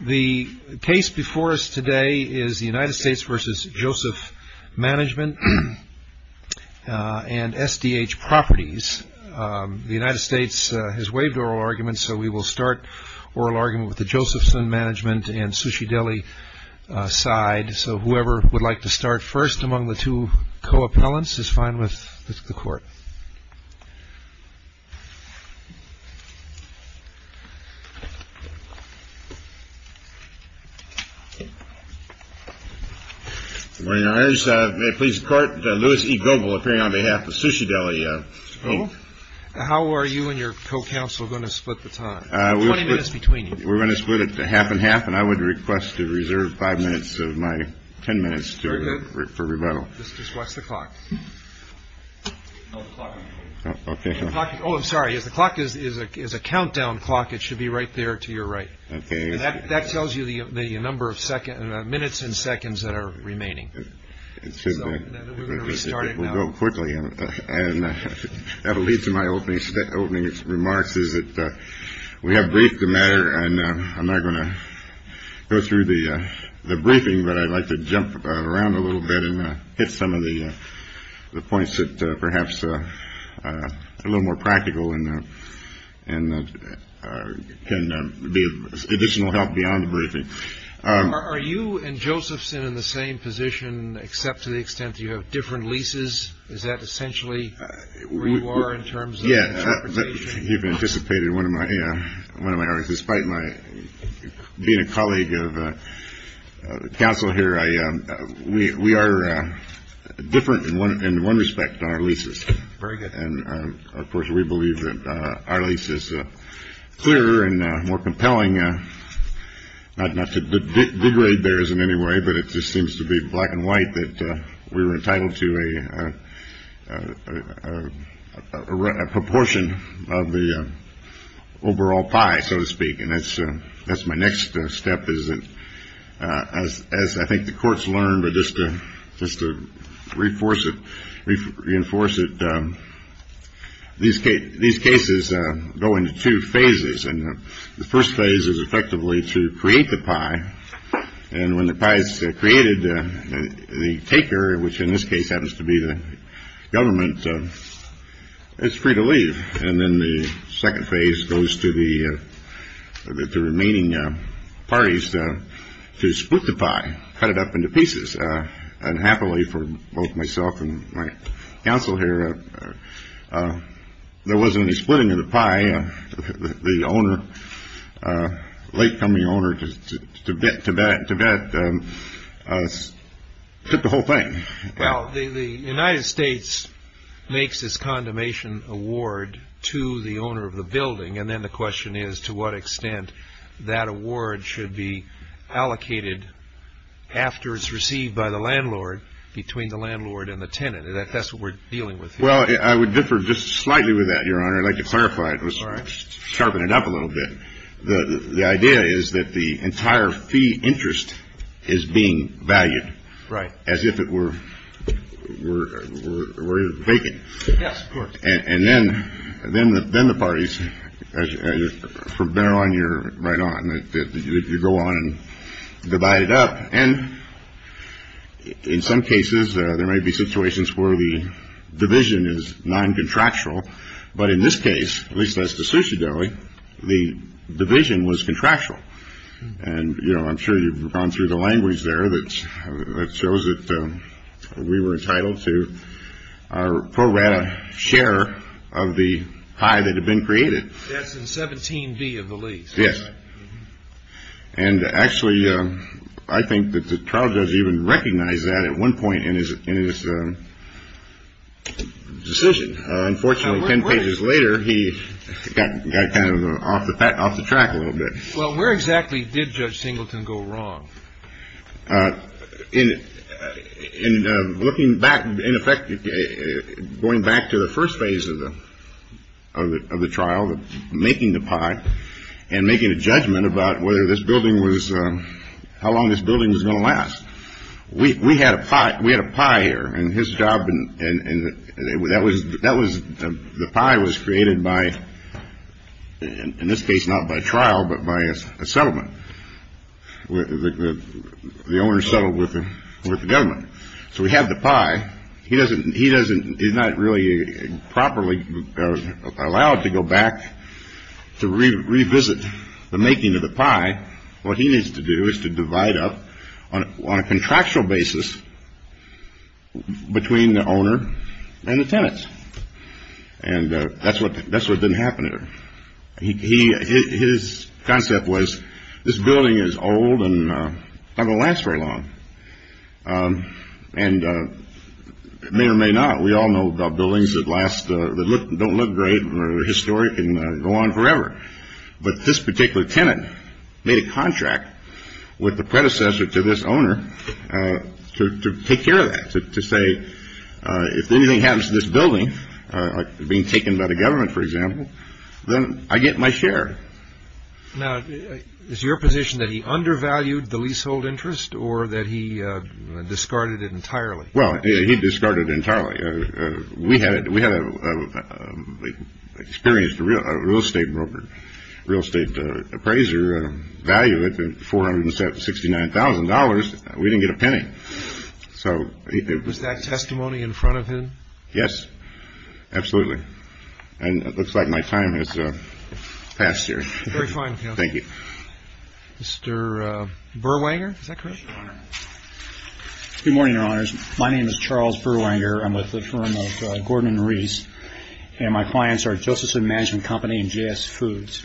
The case before us today is the United States v. Joseph Management and SDH Properties. The United States has waived oral arguments, so we will start oral argument with the Josephson Management and Sushi Deli side. So whoever would like to start first among the two co-appellants is fine with the court. Where are you, sir? May it please the court. Louis E. Goble appearing on behalf of Sushi Deli. How are you and your co-counsel going to split the time between you? We're going to split it half and half, and I would request to reserve five minutes of my 10 minutes for rebuttal. Just watch the clock. Oh, I'm sorry. As the clock is, is a is a countdown clock. It should be right there to your right. And that tells you the number of seconds and minutes and seconds that are remaining. We're going to start quickly and have a lead to my opening opening remarks. Is it that we have briefed the matter? And I'm not going to go through the briefing, but I'd like to jump around a little bit and hit some of the points that perhaps are a little more practical and can be additional help beyond the briefing. Are you and Josephson in the same position, except to the extent you have different leases? Is that essentially where you are in terms? Yes. You've anticipated one of my one of my despite my being a colleague of the council here. We are different in one in one respect. Our leases. And of course, we believe that our lease is clear and more compelling. Not to degrade bears in any way, but it just seems to be black and white that we were entitled to a proportion of the overall pie, so to speak. And that's that's my next step is that as as I think the courts learn, but just to just to reinforce it, reinforce it. These these cases go into two phases and the first phase is effectively to create the pie. And when the price created the taker, which in this case happens to be the government, it's free to leave. And then the second phase goes to the remaining parties to split the pie, cut it up into pieces. And happily for both myself and my counsel here, there wasn't any splitting of the pie. The owner, latecoming owner to Tibet, Tibet, Tibet took the whole thing. Well, the United States makes this condemnation award to the owner of the building. And then the question is, to what extent that award should be allocated after it's received by the landlord between the landlord and the tenant. That's what we're dealing with. Well, I would differ just slightly with that. Your Honor, I'd like to clarify. It was sharpened up a little bit. The idea is that the entire fee interest is being valued. Right. As if it were we're breaking. Yes. And then then then the parties are better on your right on it. You go on and divide it up. And in some cases there may be situations where the division is non contractual. But in this case, at least that's the sushi deli. The division was contractual. And, you know, I'm sure you've gone through the language there that shows it. We were entitled to pro rata share of the pie that had been created. That's in 17B of the lease. Yes. And actually, I think that the trial judge even recognized that at one point in his decision. Unfortunately, 10 pages later, he got kind of off the back off the track a little bit. Well, where exactly did Judge Singleton go wrong in looking back? In effect, going back to the first phase of the of the trial, making the pie and making a judgment about whether this building was how long this building was going to last. We had a pot. We had a pie here and his job. And that was that was the pie was created by, in this case, not by trial, but by a settlement. The owner settled with the government. So we have the pie. He doesn't. He doesn't. He's not really properly allowed to go back to revisit the making of the pie. What he needs to do is to divide up on a contractual basis between the owner and the tenants. And that's what that's what didn't happen there. He his concept was this building is old and not going to last very long. And it may or may not. We all know about buildings that last that look don't look great or historic and go on forever. But this particular tenant made a contract with the predecessor to this owner to take care of that, to say, if anything happens to this building being taken by the government, for example, then I get my share. Now, is your position that he undervalued the leasehold interest or that he discarded it entirely? Well, he discarded entirely. We had we had experienced a real estate broker, real estate appraiser value at four hundred and sixty nine thousand dollars. We didn't get a penny. So was that testimony in front of him? Yes, absolutely. And it looks like my time has passed here. Very fine. Thank you. Mr. Berwanger, is that correct? Good morning, Your Honors. My name is Charles Berwanger. I'm with the firm of Gordon and Reese. And my clients are Josephson Management Company and JS Foods.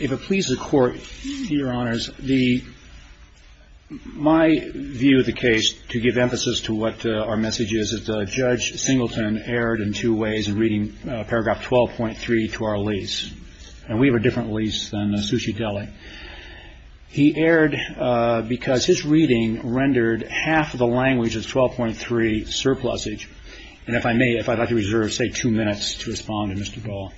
If it pleases the Court, Your Honors, the my view of the case to give emphasis to what our message is, is that Judge Singleton erred in two ways in reading paragraph twelve point three to our lease. And we have a different lease than Sushi Deli. He erred because his reading rendered half of the language of twelve point three surplusage. And if I may, if I'd like to reserve, say, two minutes to respond to Mr. Dole,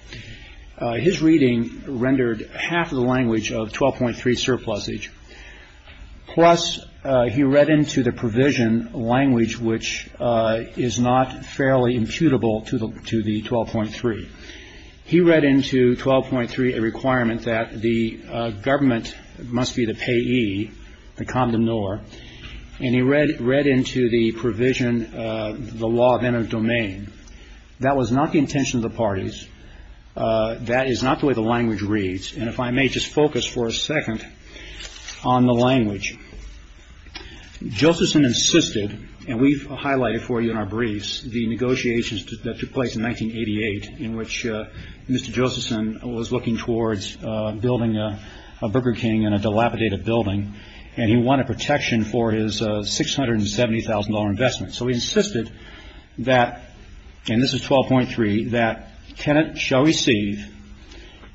his reading rendered half of the language of twelve point three surplusage. Plus, he read into the provision language, which is not fairly imputable to the to the twelve point three. He read into twelve point three a requirement that the government must be the payee, the condom nor. And he read read into the provision, the law of inner domain. That was not the intention of the parties. That is not the way the language reads. And if I may just focus for a second on the language, Josephson insisted. And we've highlighted for you in our briefs the negotiations that took place in 1988 in which Mr. Josephson was looking towards building a Burger King and a dilapidated building. And he wanted protection for his six hundred and seventy thousand dollar investment. So he insisted that, and this is twelve point three, that tenants shall receive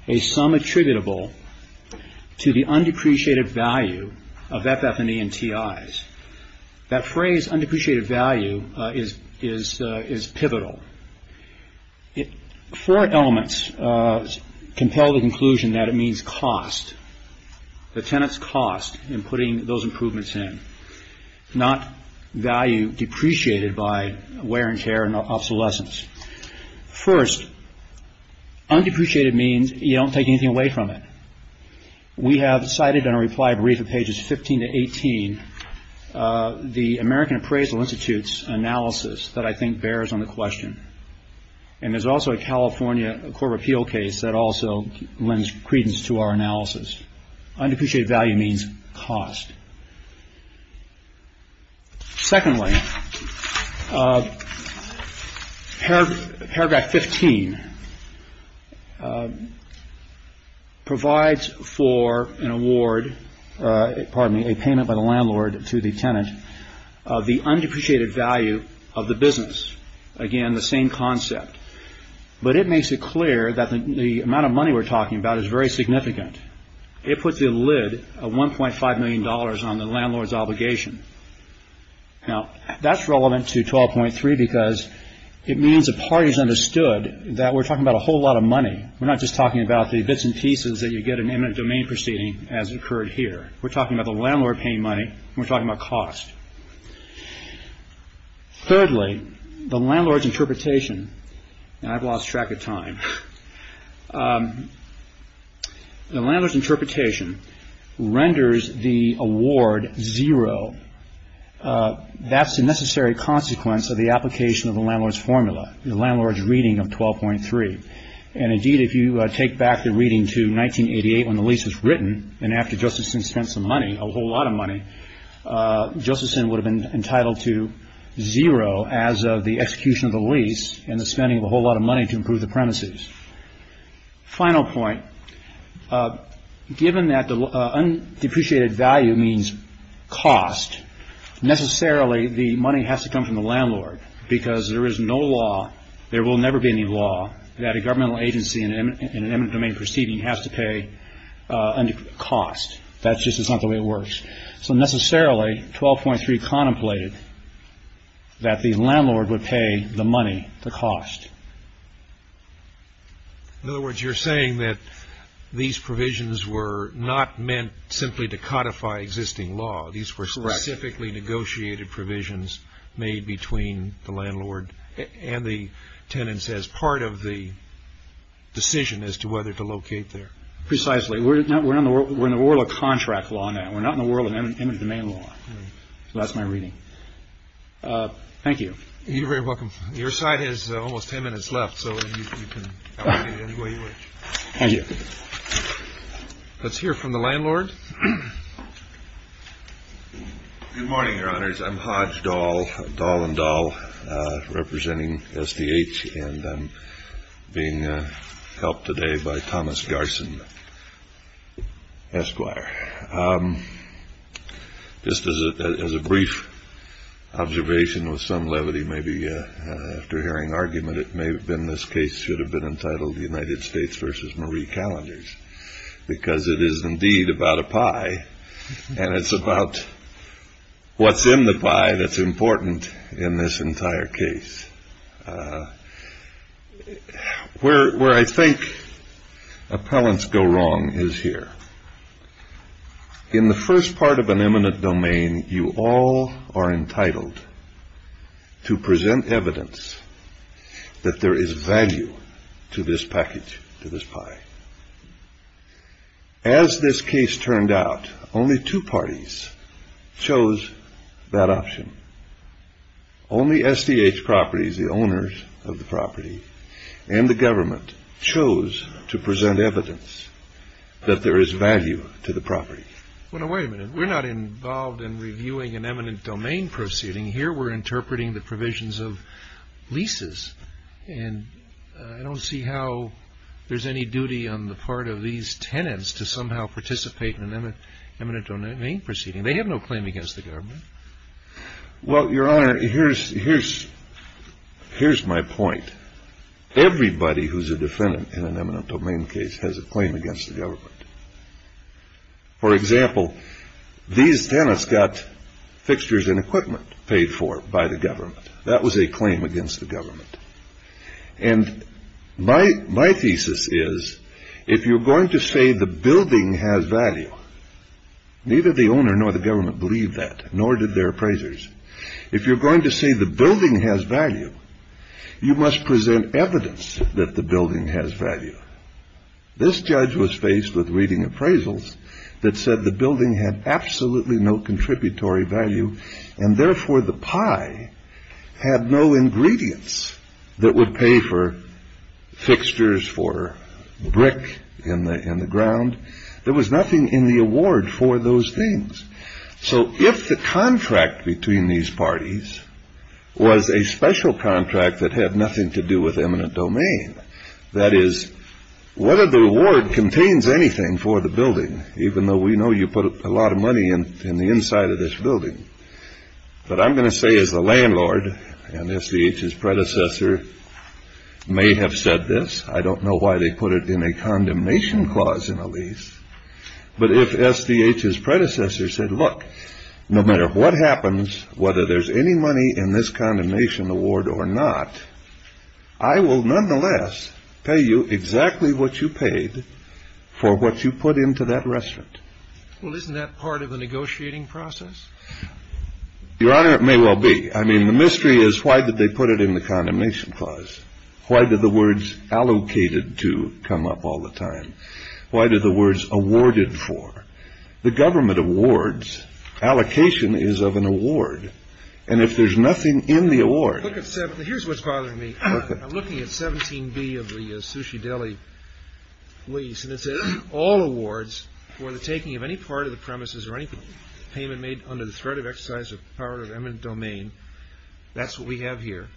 a sum attributable to the undepreciated value of FF&E and TI's. That phrase undepreciated value is is is pivotal. Four elements compel the conclusion that it means cost. The tenants cost in putting those improvements in not value depreciated by wear and tear and obsolescence. First, undepreciated means you don't take anything away from it. We have cited in a reply brief of pages 15 to 18, the American Appraisal Institute's analysis that I think bears on the question. And there's also a California Court of Appeal case that also lends credence to our analysis. Undepreciated value means cost. Secondly, paragraph 15 provides for an award, pardon me, a payment by the landlord to the tenant of the undepreciated value of the business. Again, the same concept. But it makes it clear that the amount of money we're talking about is very significant. It puts a lid of one point five million dollars on the landlord's obligation. Now, that's relevant to twelve point three because it means the parties understood that we're talking about a whole lot of money. We're not just talking about the bits and pieces that you get an eminent domain proceeding as occurred here. We're talking about the landlord paying money. We're talking about cost. Thirdly, the landlord's interpretation. I've lost track of time. The landlord's interpretation renders the award zero. That's the necessary consequence of the application of the landlord's formula. The landlord's reading of twelve point three. And indeed, if you take back the reading to 1988 when the lease was written and after Josephson spent some money, a whole lot of money, Josephson would have been entitled to zero as of the execution of the lease and the spending of a whole lot of money to improve the premises. Final point, given that the undepreciated value means cost, necessarily the money has to come from the landlord because there is no law. There will never be any law that a governmental agency in an eminent domain proceeding has to pay under cost. That's just not the way it works. So necessarily, twelve point three contemplated that the landlord would pay the money, the cost. In other words, you're saying that these provisions were not meant simply to codify existing law. These were specifically negotiated provisions made between the landlord and the tenants as part of the decision as to whether to locate there. Precisely. We're not we're in the world. We're in the world of contract law now. We're not in the world of eminent domain law. That's my reading. Thank you. You're very welcome. Your side is almost ten minutes left, so you can. Thank you. Let's hear from the landlord. Good morning, your honors. I'm Hodge doll doll and doll representing S.D.H. and I'm being helped today by Thomas Garson, Esquire. This is a brief observation with some levity. Maybe after hearing argument, it may have been this case should have been entitled the United States versus Marie calendars, because it is indeed about a pie and it's about what's in the pie that's important in this entire case. Where I think appellants go wrong is here in the first part of an eminent domain. You all are entitled to present evidence that there is value to this package, to this pie. As this case turned out, only two parties chose that option. Only S.D.H. properties, the owners of the property and the government chose to present evidence that there is value to the property. Wait a minute. We're not involved in reviewing an eminent domain proceeding. Here we're interpreting the provisions of leases. And I don't see how there's any duty on the part of these tenants to somehow participate in an eminent domain proceeding. They have no claim against the government. Well, your honor, here's here's here's my point. Everybody who's a defendant in an eminent domain case has a claim against the government. For example, these tenants got fixtures and equipment paid for by the government. That was a claim against the government. And my my thesis is if you're going to say the building has value, neither the owner nor the government believe that, nor did their appraisers. If you're going to say the building has value, you must present evidence that the building has value. This judge was faced with reading appraisals that said the building had absolutely no contributory value. And therefore, the pie had no ingredients that would pay for fixtures, for brick in the in the ground. There was nothing in the award for those things. So if the contract between these parties was a special contract that had nothing to do with eminent domain, that is whether the reward contains anything for the building, even though we know you put a lot of money in the inside of this building. But I'm going to say as a landlord and S.D.H.'s predecessor may have said this. I don't know why they put it in a condemnation clause in a lease. But if S.D.H.'s predecessor said, look, no matter what happens, whether there's any money in this condemnation award or not, I will nonetheless pay you exactly what you paid for what you put into that restaurant. Well, isn't that part of the negotiating process? Your Honor, it may well be. I mean, the mystery is why did they put it in the condemnation clause? Why did the words allocated to come up all the time? Why did the words awarded for? The government awards, allocation is of an award. And if there's nothing in the award. Here's what's bothering me. I'm looking at 17B of the Sushi Deli lease. And it says all awards for the taking of any part of the premises or any payment made under the threat of exercise of power of eminent domain. That's what we have here.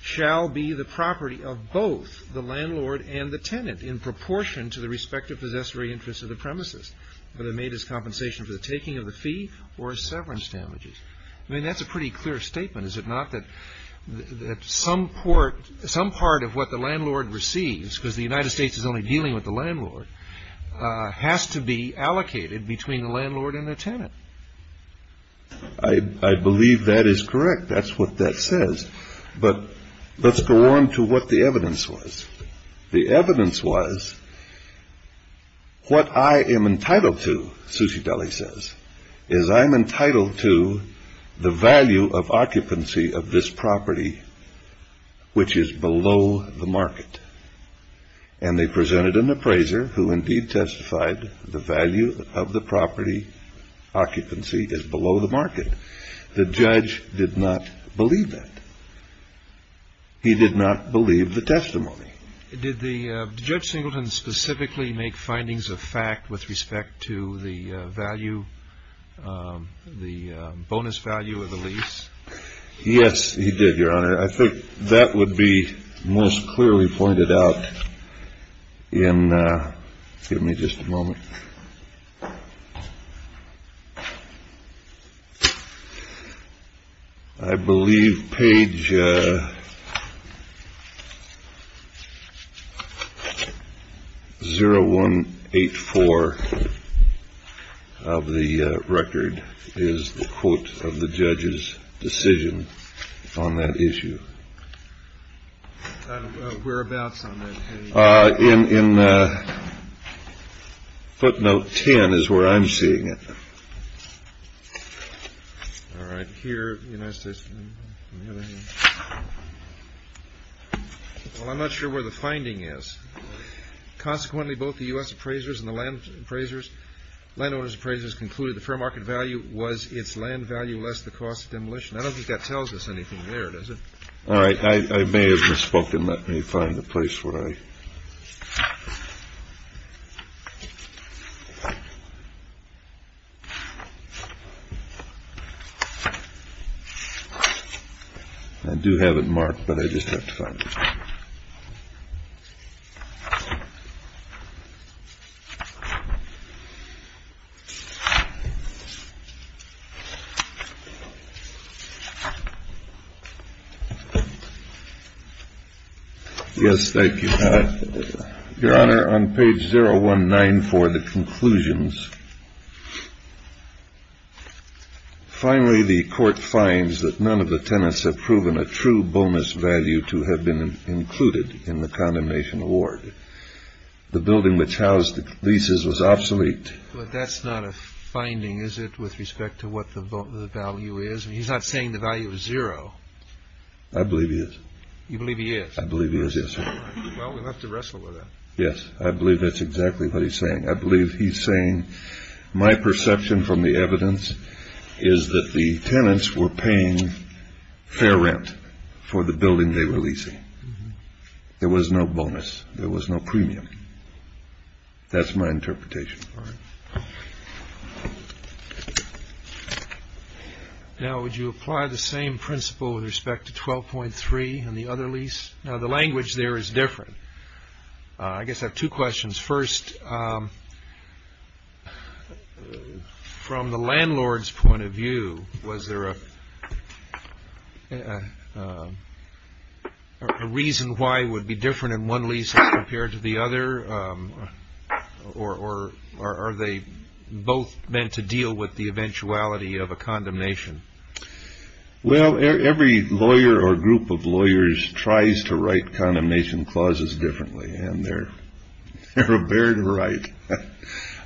Shall be the property of both the landlord and the tenant in proportion to the respective possessory interests of the premises, whether made as compensation for the taking of the fee or severance damages. I mean, that's a pretty clear statement. Is it not that some port, some part of what the landlord receives because the United States is only dealing with the landlord, has to be allocated between the landlord and the tenant. I believe that is correct. That's what that says. But let's go on to what the evidence was. The evidence was. What I am entitled to, Sushi Deli says, is I'm entitled to the value of occupancy of this property, which is below the market. And they presented an appraiser who indeed testified the value of the property occupancy is below the market. The judge did not believe that. He did not believe the testimony. Did the judge singleton specifically make findings of fact with respect to the value, the bonus value of the lease? Yes, he did, Your Honor. I think that would be most clearly pointed out in. Give me just a moment. I believe page. 0 1 8 4 of the record is the quote of the judge's decision on that issue. Whereabouts in footnote 10 is where I'm seeing it. All right here. Well, I'm not sure where the finding is. Consequently, both the U.S. appraisers and the land appraisers landowners appraisers concluded the fair market value was its land value less the cost demolition. I don't think that tells us anything there, does it? All right. I may have misspoken. Let me find a place where I. I do have it marked, but I just have to find. Yes, thank you. Your Honor, on page 0 1 9 for the conclusions. Finally, the court finds that none of the tenants have proven a true bonus value to have been included in the condemnation award. The building which housed the leases was obsolete. But that's not a finding, is it? With respect to what the value is. He's not saying the value of zero. I believe he is. You believe he is. I believe he is. Yes. Well, we'll have to wrestle with it. Yes, I believe that's exactly what he's saying. I believe he's saying my perception from the evidence is that the tenants were paying fair rent for the building they were leasing. There was no bonus. There was no premium. That's my interpretation. All right. Now, would you apply the same principle with respect to twelve point three and the other lease? Now, the language there is different. I guess I have two questions. First, from the landlord's point of view, was there a reason why it would be different in one lease compared to the other? Or are they both meant to deal with the eventuality of a condemnation? Well, every lawyer or group of lawyers tries to write condemnation clauses differently, and they're a bear to write.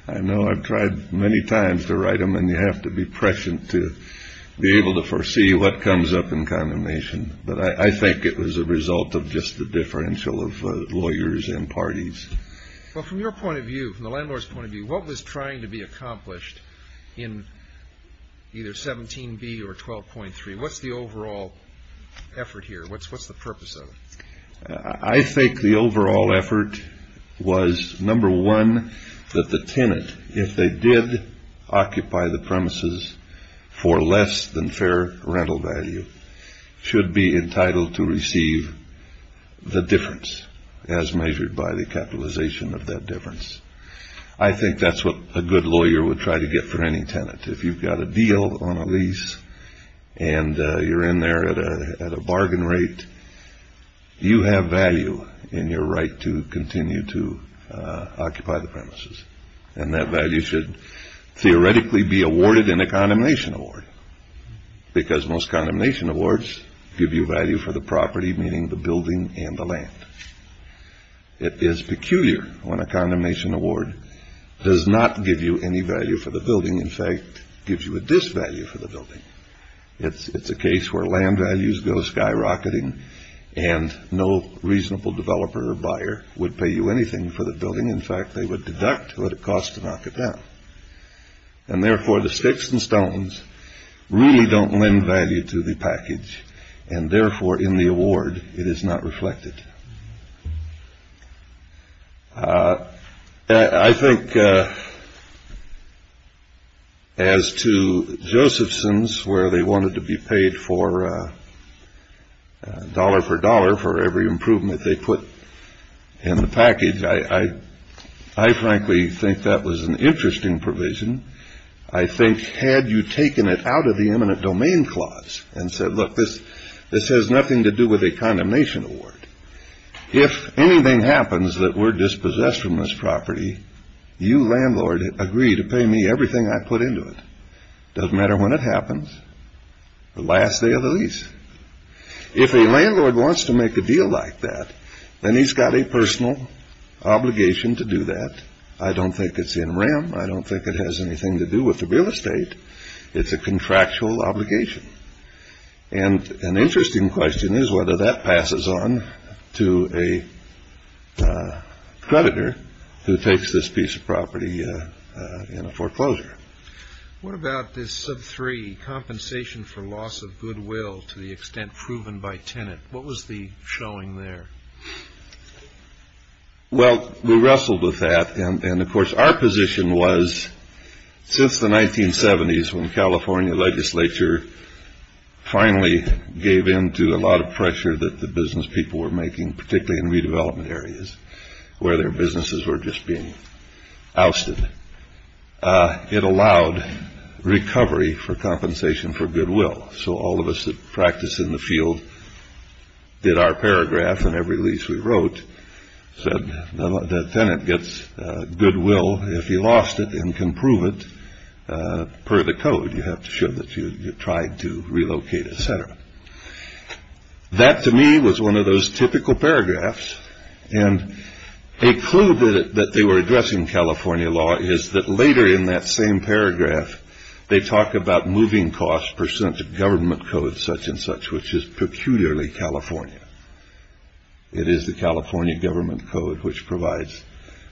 I know I've tried many times to write them, and you have to be prescient to be able to foresee what comes up in condemnation. But I think it was a result of just the differential of lawyers and parties. Well, from your point of view, from the landlord's point of view, what was trying to be accomplished in either 17B or 12.3? What's the overall effort here? What's the purpose of it? I think the overall effort was, number one, that the tenant, if they did occupy the premises for less than fair rental value, should be entitled to receive the difference as measured by the capitalization of that difference. I think that's what a good lawyer would try to get for any tenant. If you've got a deal on a lease and you're in there at a bargain rate, you have value in your right to continue to occupy the premises. And that value should theoretically be awarded in a condemnation award, because most condemnation awards give you value for the property, meaning the building and the land. It is peculiar when a condemnation award does not give you any value for the building. In fact, it gives you a disvalue for the building. It's a case where land values go skyrocketing, and no reasonable developer or buyer would pay you anything for the building. In fact, they would deduct what it costs to knock it down. And therefore, the sticks and stones really don't lend value to the package, and therefore, in the award, it is not reflected. I think as to Josephson's, where they wanted to be paid for dollar for dollar for every improvement they put in the package, I frankly think that was an interesting provision. I think had you taken it out of the eminent domain clause and said, look, this has nothing to do with a condemnation award, if anything happens that we're dispossessed from this property, you, landlord, agree to pay me everything I put into it. It doesn't matter when it happens, the last day of the lease. If a landlord wants to make a deal like that, then he's got a personal obligation to do that. I don't think it's in RAM. I don't think it has anything to do with the real estate. It's a contractual obligation. And an interesting question is whether that passes on to a creditor who takes this piece of property in a foreclosure. What about this sub three compensation for loss of goodwill to the extent proven by tenant? What was the showing there? Well, we wrestled with that. And of course, our position was since the 1970s, when California legislature finally gave into a lot of pressure that the business people were making, particularly in redevelopment areas where their businesses were just being ousted. It allowed recovery for compensation for goodwill. So all of us that practice in the field did our paragraph on every lease we wrote. Said the tenant gets goodwill if he lost it and can prove it per the code. You have to show that you tried to relocate, et cetera. That to me was one of those typical paragraphs. And a clue that they were addressing California law is that later in that same paragraph, they talk about moving costs percent of government code such and such, which is peculiarly California. It is the California government code which provides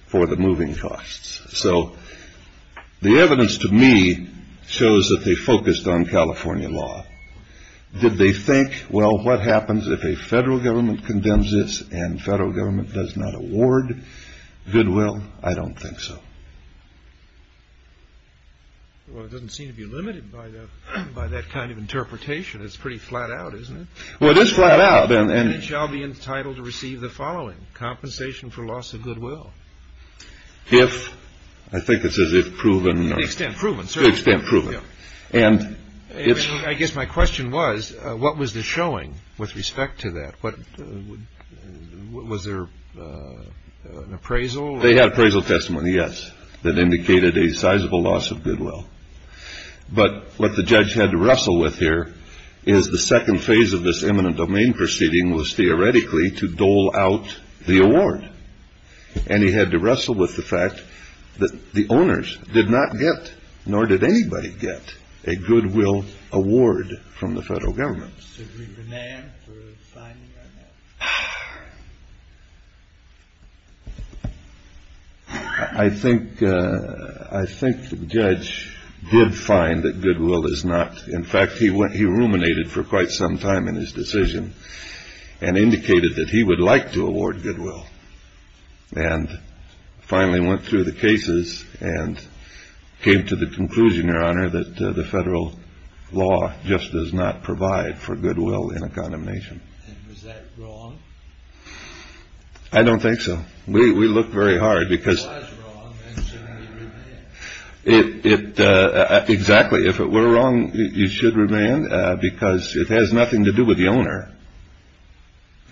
for the moving costs. So the evidence to me shows that they focused on California law. Did they think, well, what happens if a federal government condemns this and federal government does not award goodwill? I don't think so. Well, it doesn't seem to be limited by that kind of interpretation. It's pretty flat out, isn't it? Well, it is flat out. And it shall be entitled to receive the following compensation for loss of goodwill. If I think it's as if proven extent, proven, proven. And I guess my question was, what was the showing with respect to that? Was there an appraisal? They had appraisal testimony, yes, that indicated a sizable loss of goodwill. But what the judge had to wrestle with here is the second phase of this eminent domain proceeding was theoretically to dole out the award. And he had to wrestle with the fact that the owners did not get, nor did anybody get, a goodwill award from the federal government. I think I think the judge did find that goodwill is not. In fact, he went he ruminated for quite some time in his decision and indicated that he would like to award goodwill. And finally went through the cases and came to the conclusion, your honor, that the federal law just does not provide for goodwill in a condemnation. And was that wrong? I don't think so. We look very hard because it. Exactly. If it were wrong, you should remain because it has nothing to do with the owner.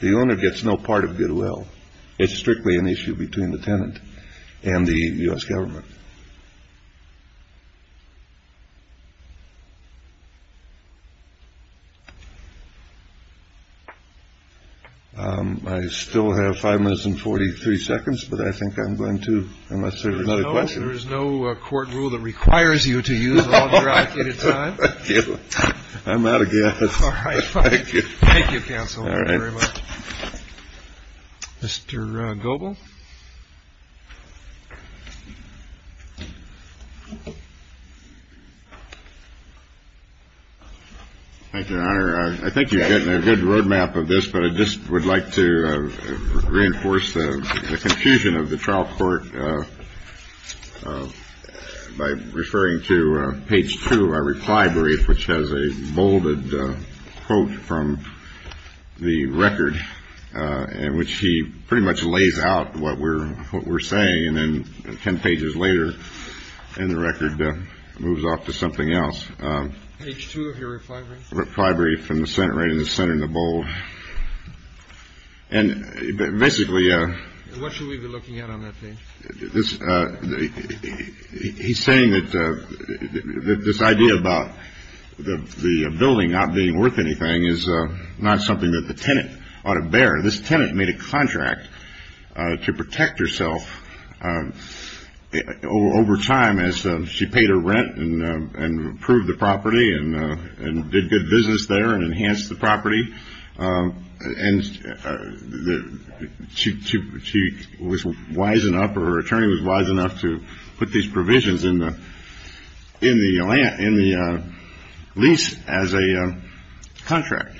The owner gets no part of goodwill. It's strictly an issue between the tenant and the U.S. government. I still have five minutes and 43 seconds, but I think I'm going to. There is no court rule that requires you to use. I'm out of gas. Thank you, counsel. Mr. Goble. Thank you, your honor. I think you're getting a good roadmap of this, but I just would like to reinforce the confusion of the trial court by referring to page two. I replied brief, which has a bolded quote from the record in which he pretty much lays out what we're what we're saying. And then 10 pages later in the record moves off to something else. Reply brief from the center in the center in the bowl. And basically, what should we be looking at on that page? He's saying that this idea about the building not being worth anything is not something that the tenant ought to bear. This tenant made a contract to protect herself over time as she paid her rent and approved the property and did good business there and enhanced the property. And she was wise enough or attorney was wise enough to put these provisions in the in the in the lease as a contract.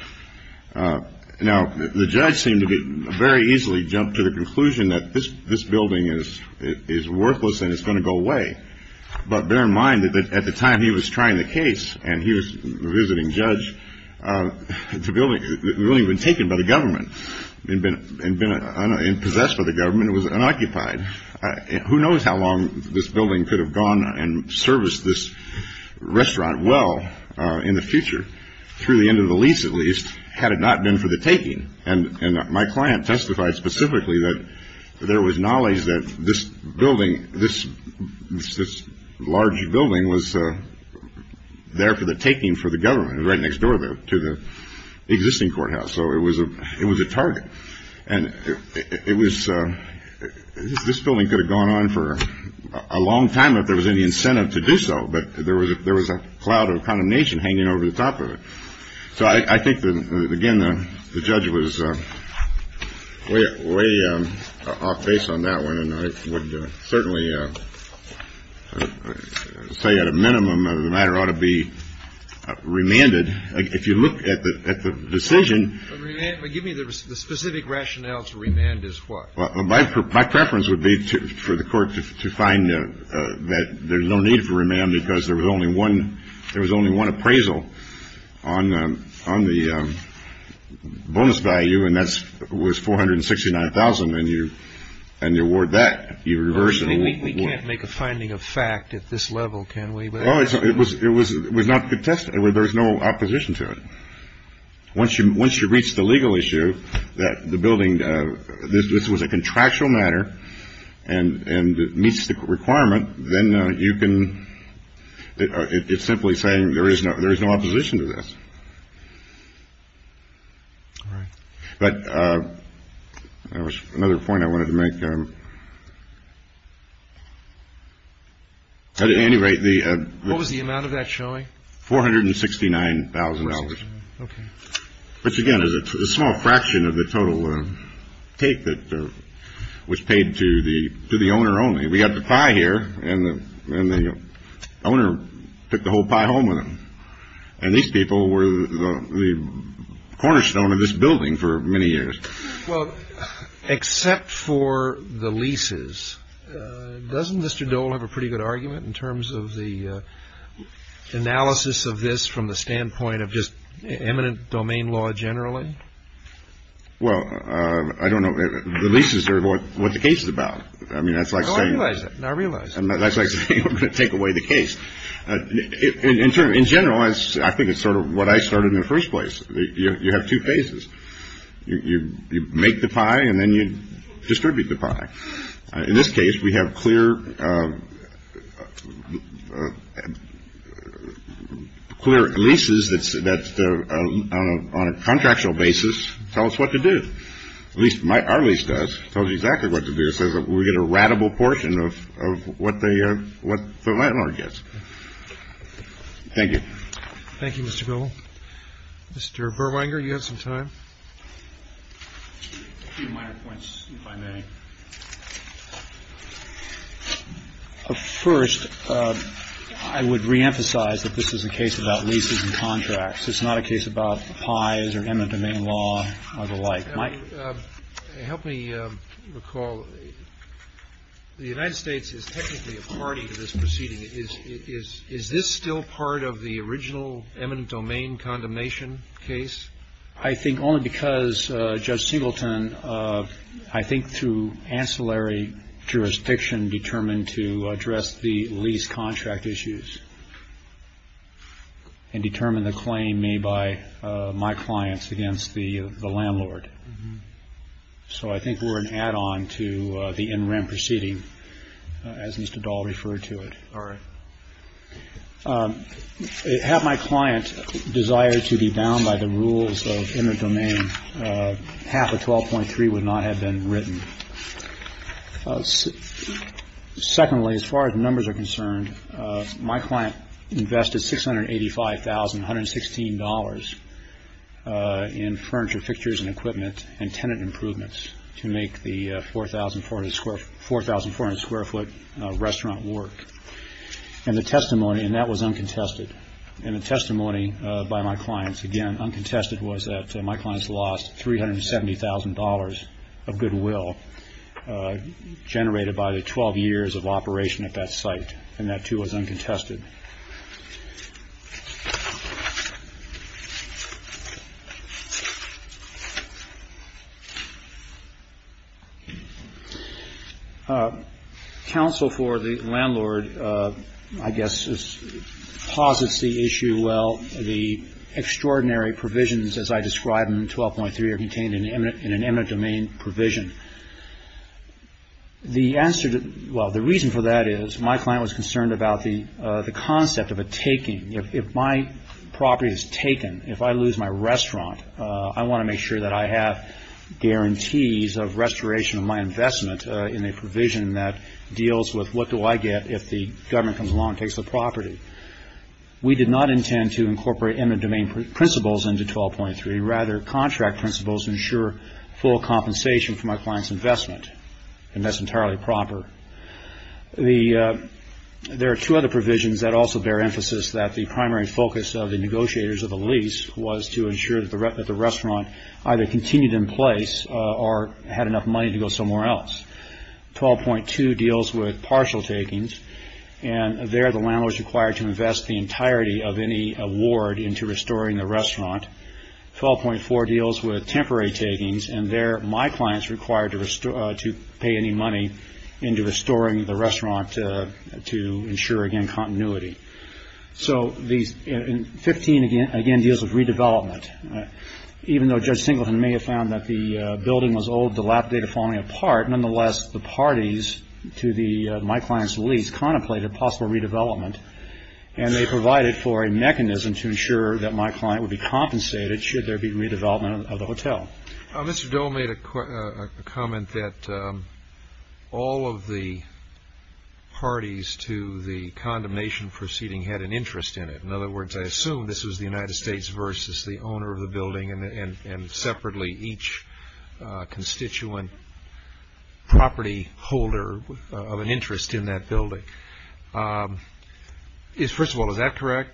Now, the judge seemed to get very easily jumped to the conclusion that this this building is it is worthless and it's going to go away. But bear in mind that at the time he was trying the case and he was visiting judge to building really been taken by the government and been in possess for the government was unoccupied. Who knows how long this building could have gone and serviced this restaurant? Well, in the future, through the end of the lease, at least, had it not been for the taking. And my client testified specifically that there was knowledge that this building, this this large building was there for the taking for the government. Right next door to the existing courthouse. So it was a it was a target. And it was this building could have gone on for a long time if there was any incentive to do so. But there was there was a cloud of condemnation hanging over the top of it. So I think, again, the judge was way, way off base on that one. And I would certainly say at a minimum of the matter ought to be remanded. If you look at the decision, give me the specific rationale to remand is what? Well, my preference would be for the court to find that there's no need for remand because there was only one. There was only one appraisal on on the bonus value. And that's was four hundred and sixty nine thousand. And you and the award that you reverse. And we can't make a finding of fact at this level, can we? Well, it was it was it was not contested. There was no opposition to it. Once you once you reach the legal issue that the building this was a contractual matter and meets the requirement, then you can it's simply saying there is no there is no opposition to this. All right. But there was another point I wanted to make. At any rate, the. What was the amount of that showing? Four hundred and sixty nine thousand dollars. But again, it's a small fraction of the total take that was paid to the to the owner only. We got the pie here and the owner took the whole pie home with him. And these people were the cornerstone of this building for many years. Well, except for the leases, doesn't Mr. Dole have a pretty good argument in terms of the analysis of this from the standpoint of just eminent domain law generally? Well, I don't know. The leases are what the case is about. I mean, that's like saying I realize I'm going to take away the case. In turn, in general, I think it's sort of what I started in the first place. You have two phases. You make the pie and then you distribute the pie. In this case, we have clear, clear leases. That's that's on a contractual basis. Tell us what to do. At least my Arley's does tell you exactly what to do. So we get a radical portion of what they are, what the landlord gets. Thank you. Thank you, Mr. Bill. Mr. Verwanger, you have some time. But first, I would reemphasize that this is a case about leases and contracts. It's not a case about pies or eminent domain law or the like. Mike? Help me recall. The United States is technically a party to this proceeding. Is this still part of the original eminent domain condemnation case? I think only because Judge Singleton, I think through ancillary jurisdiction, determined to address the lease contract issues and determine the claim made by my clients against the landlord. So I think we're an add on to the interim proceeding as Mr. Dahl referred to it. All right. Have my client desire to be bound by the rules of eminent domain. Half of twelve point three would not have been written. Secondly, as far as numbers are concerned, my client invested six hundred eighty five thousand one hundred sixteen dollars in furniture, fixtures and equipment and tenant improvements to make the four thousand four square four thousand four square foot restaurant work. And the testimony and that was uncontested in a testimony by my clients. Again, uncontested was that my clients lost three hundred seventy thousand dollars of goodwill generated by the twelve years of operation at that site. And that too was uncontested. Counsel for the landlord, I guess, posits the issue. Well, the extraordinary provisions, as I described in twelve point three, are contained in an eminent domain provision. The answer. Well, the reason for that is my client was concerned about the concept of a taking. If my property is taken, if I lose my restaurant, I want to make sure that I have guarantees of restoration of my investment in a provision that deals with what do I get if the government comes along and takes the property. We did not intend to incorporate eminent domain principles into twelve point three, rather contract principles ensure full compensation for my client's investment. And that's entirely proper. The. There are two other provisions that also bear emphasis that the primary focus of the negotiators of the lease was to ensure that the restaurant either continued in place or had enough money to go somewhere else. Twelve point two deals with partial takings. And there the landlord is required to invest the entirety of any award into restoring the restaurant. Twelve point four deals with temporary takings. And there my clients required to restore to pay any money into restoring the restaurant to ensure, again, continuity. So these 15, again, again, deals with redevelopment. Even though Judge Singleton may have found that the building was old, the lap data falling apart. Nonetheless, the parties to the my client's lease contemplated possible redevelopment. And they provided for a mechanism to ensure that my client would be compensated should there be redevelopment of the hotel. Mr. Dole made a comment that all of the parties to the condemnation proceeding had an interest in it. In other words, I assume this was the United States versus the owner of the building. And separately each constituent property holder of an interest in that building. First of all, is that correct?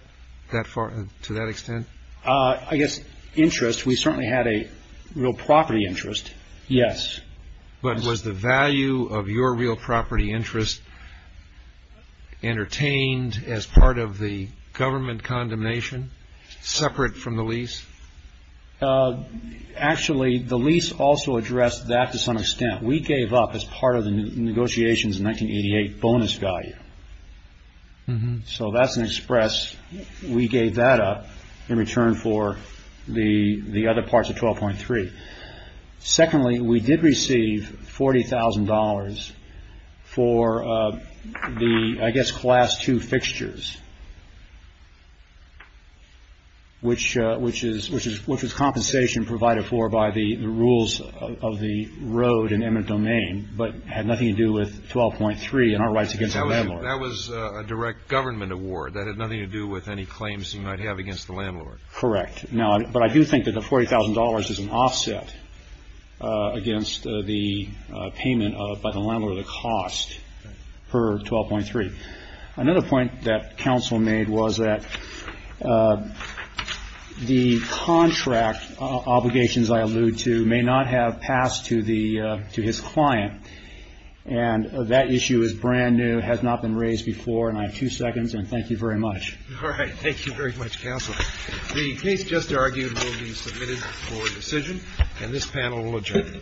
To that extent? I guess interest. We certainly had a real property interest. Yes. But was the value of your real property interest entertained as part of the government condemnation separate from the lease? Actually, the lease also addressed that to some extent. We gave up as part of the negotiations in 1988 bonus value. So that's an express. We gave that up in return for the other parts of 12.3. Secondly, we did receive $40,000 for the, I guess, class 2 fixtures, which was compensation provided for by the rules of the road and eminent domain, but had nothing to do with 12.3 and our rights against the landlord. That was a direct government award. That had nothing to do with any claims you might have against the landlord. Correct. But I do think that the $40,000 is an offset against the payment by the landlord of the cost per 12.3. Another point that counsel made was that the contract obligations I allude to may not have passed to his client. And that issue is brand new, has not been raised before. And I have two seconds. And thank you very much. All right. Thank you very much, counsel. The case just argued will be submitted for decision. And this panel will adjourn.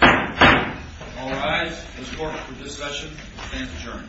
All rise for discussion and adjourn.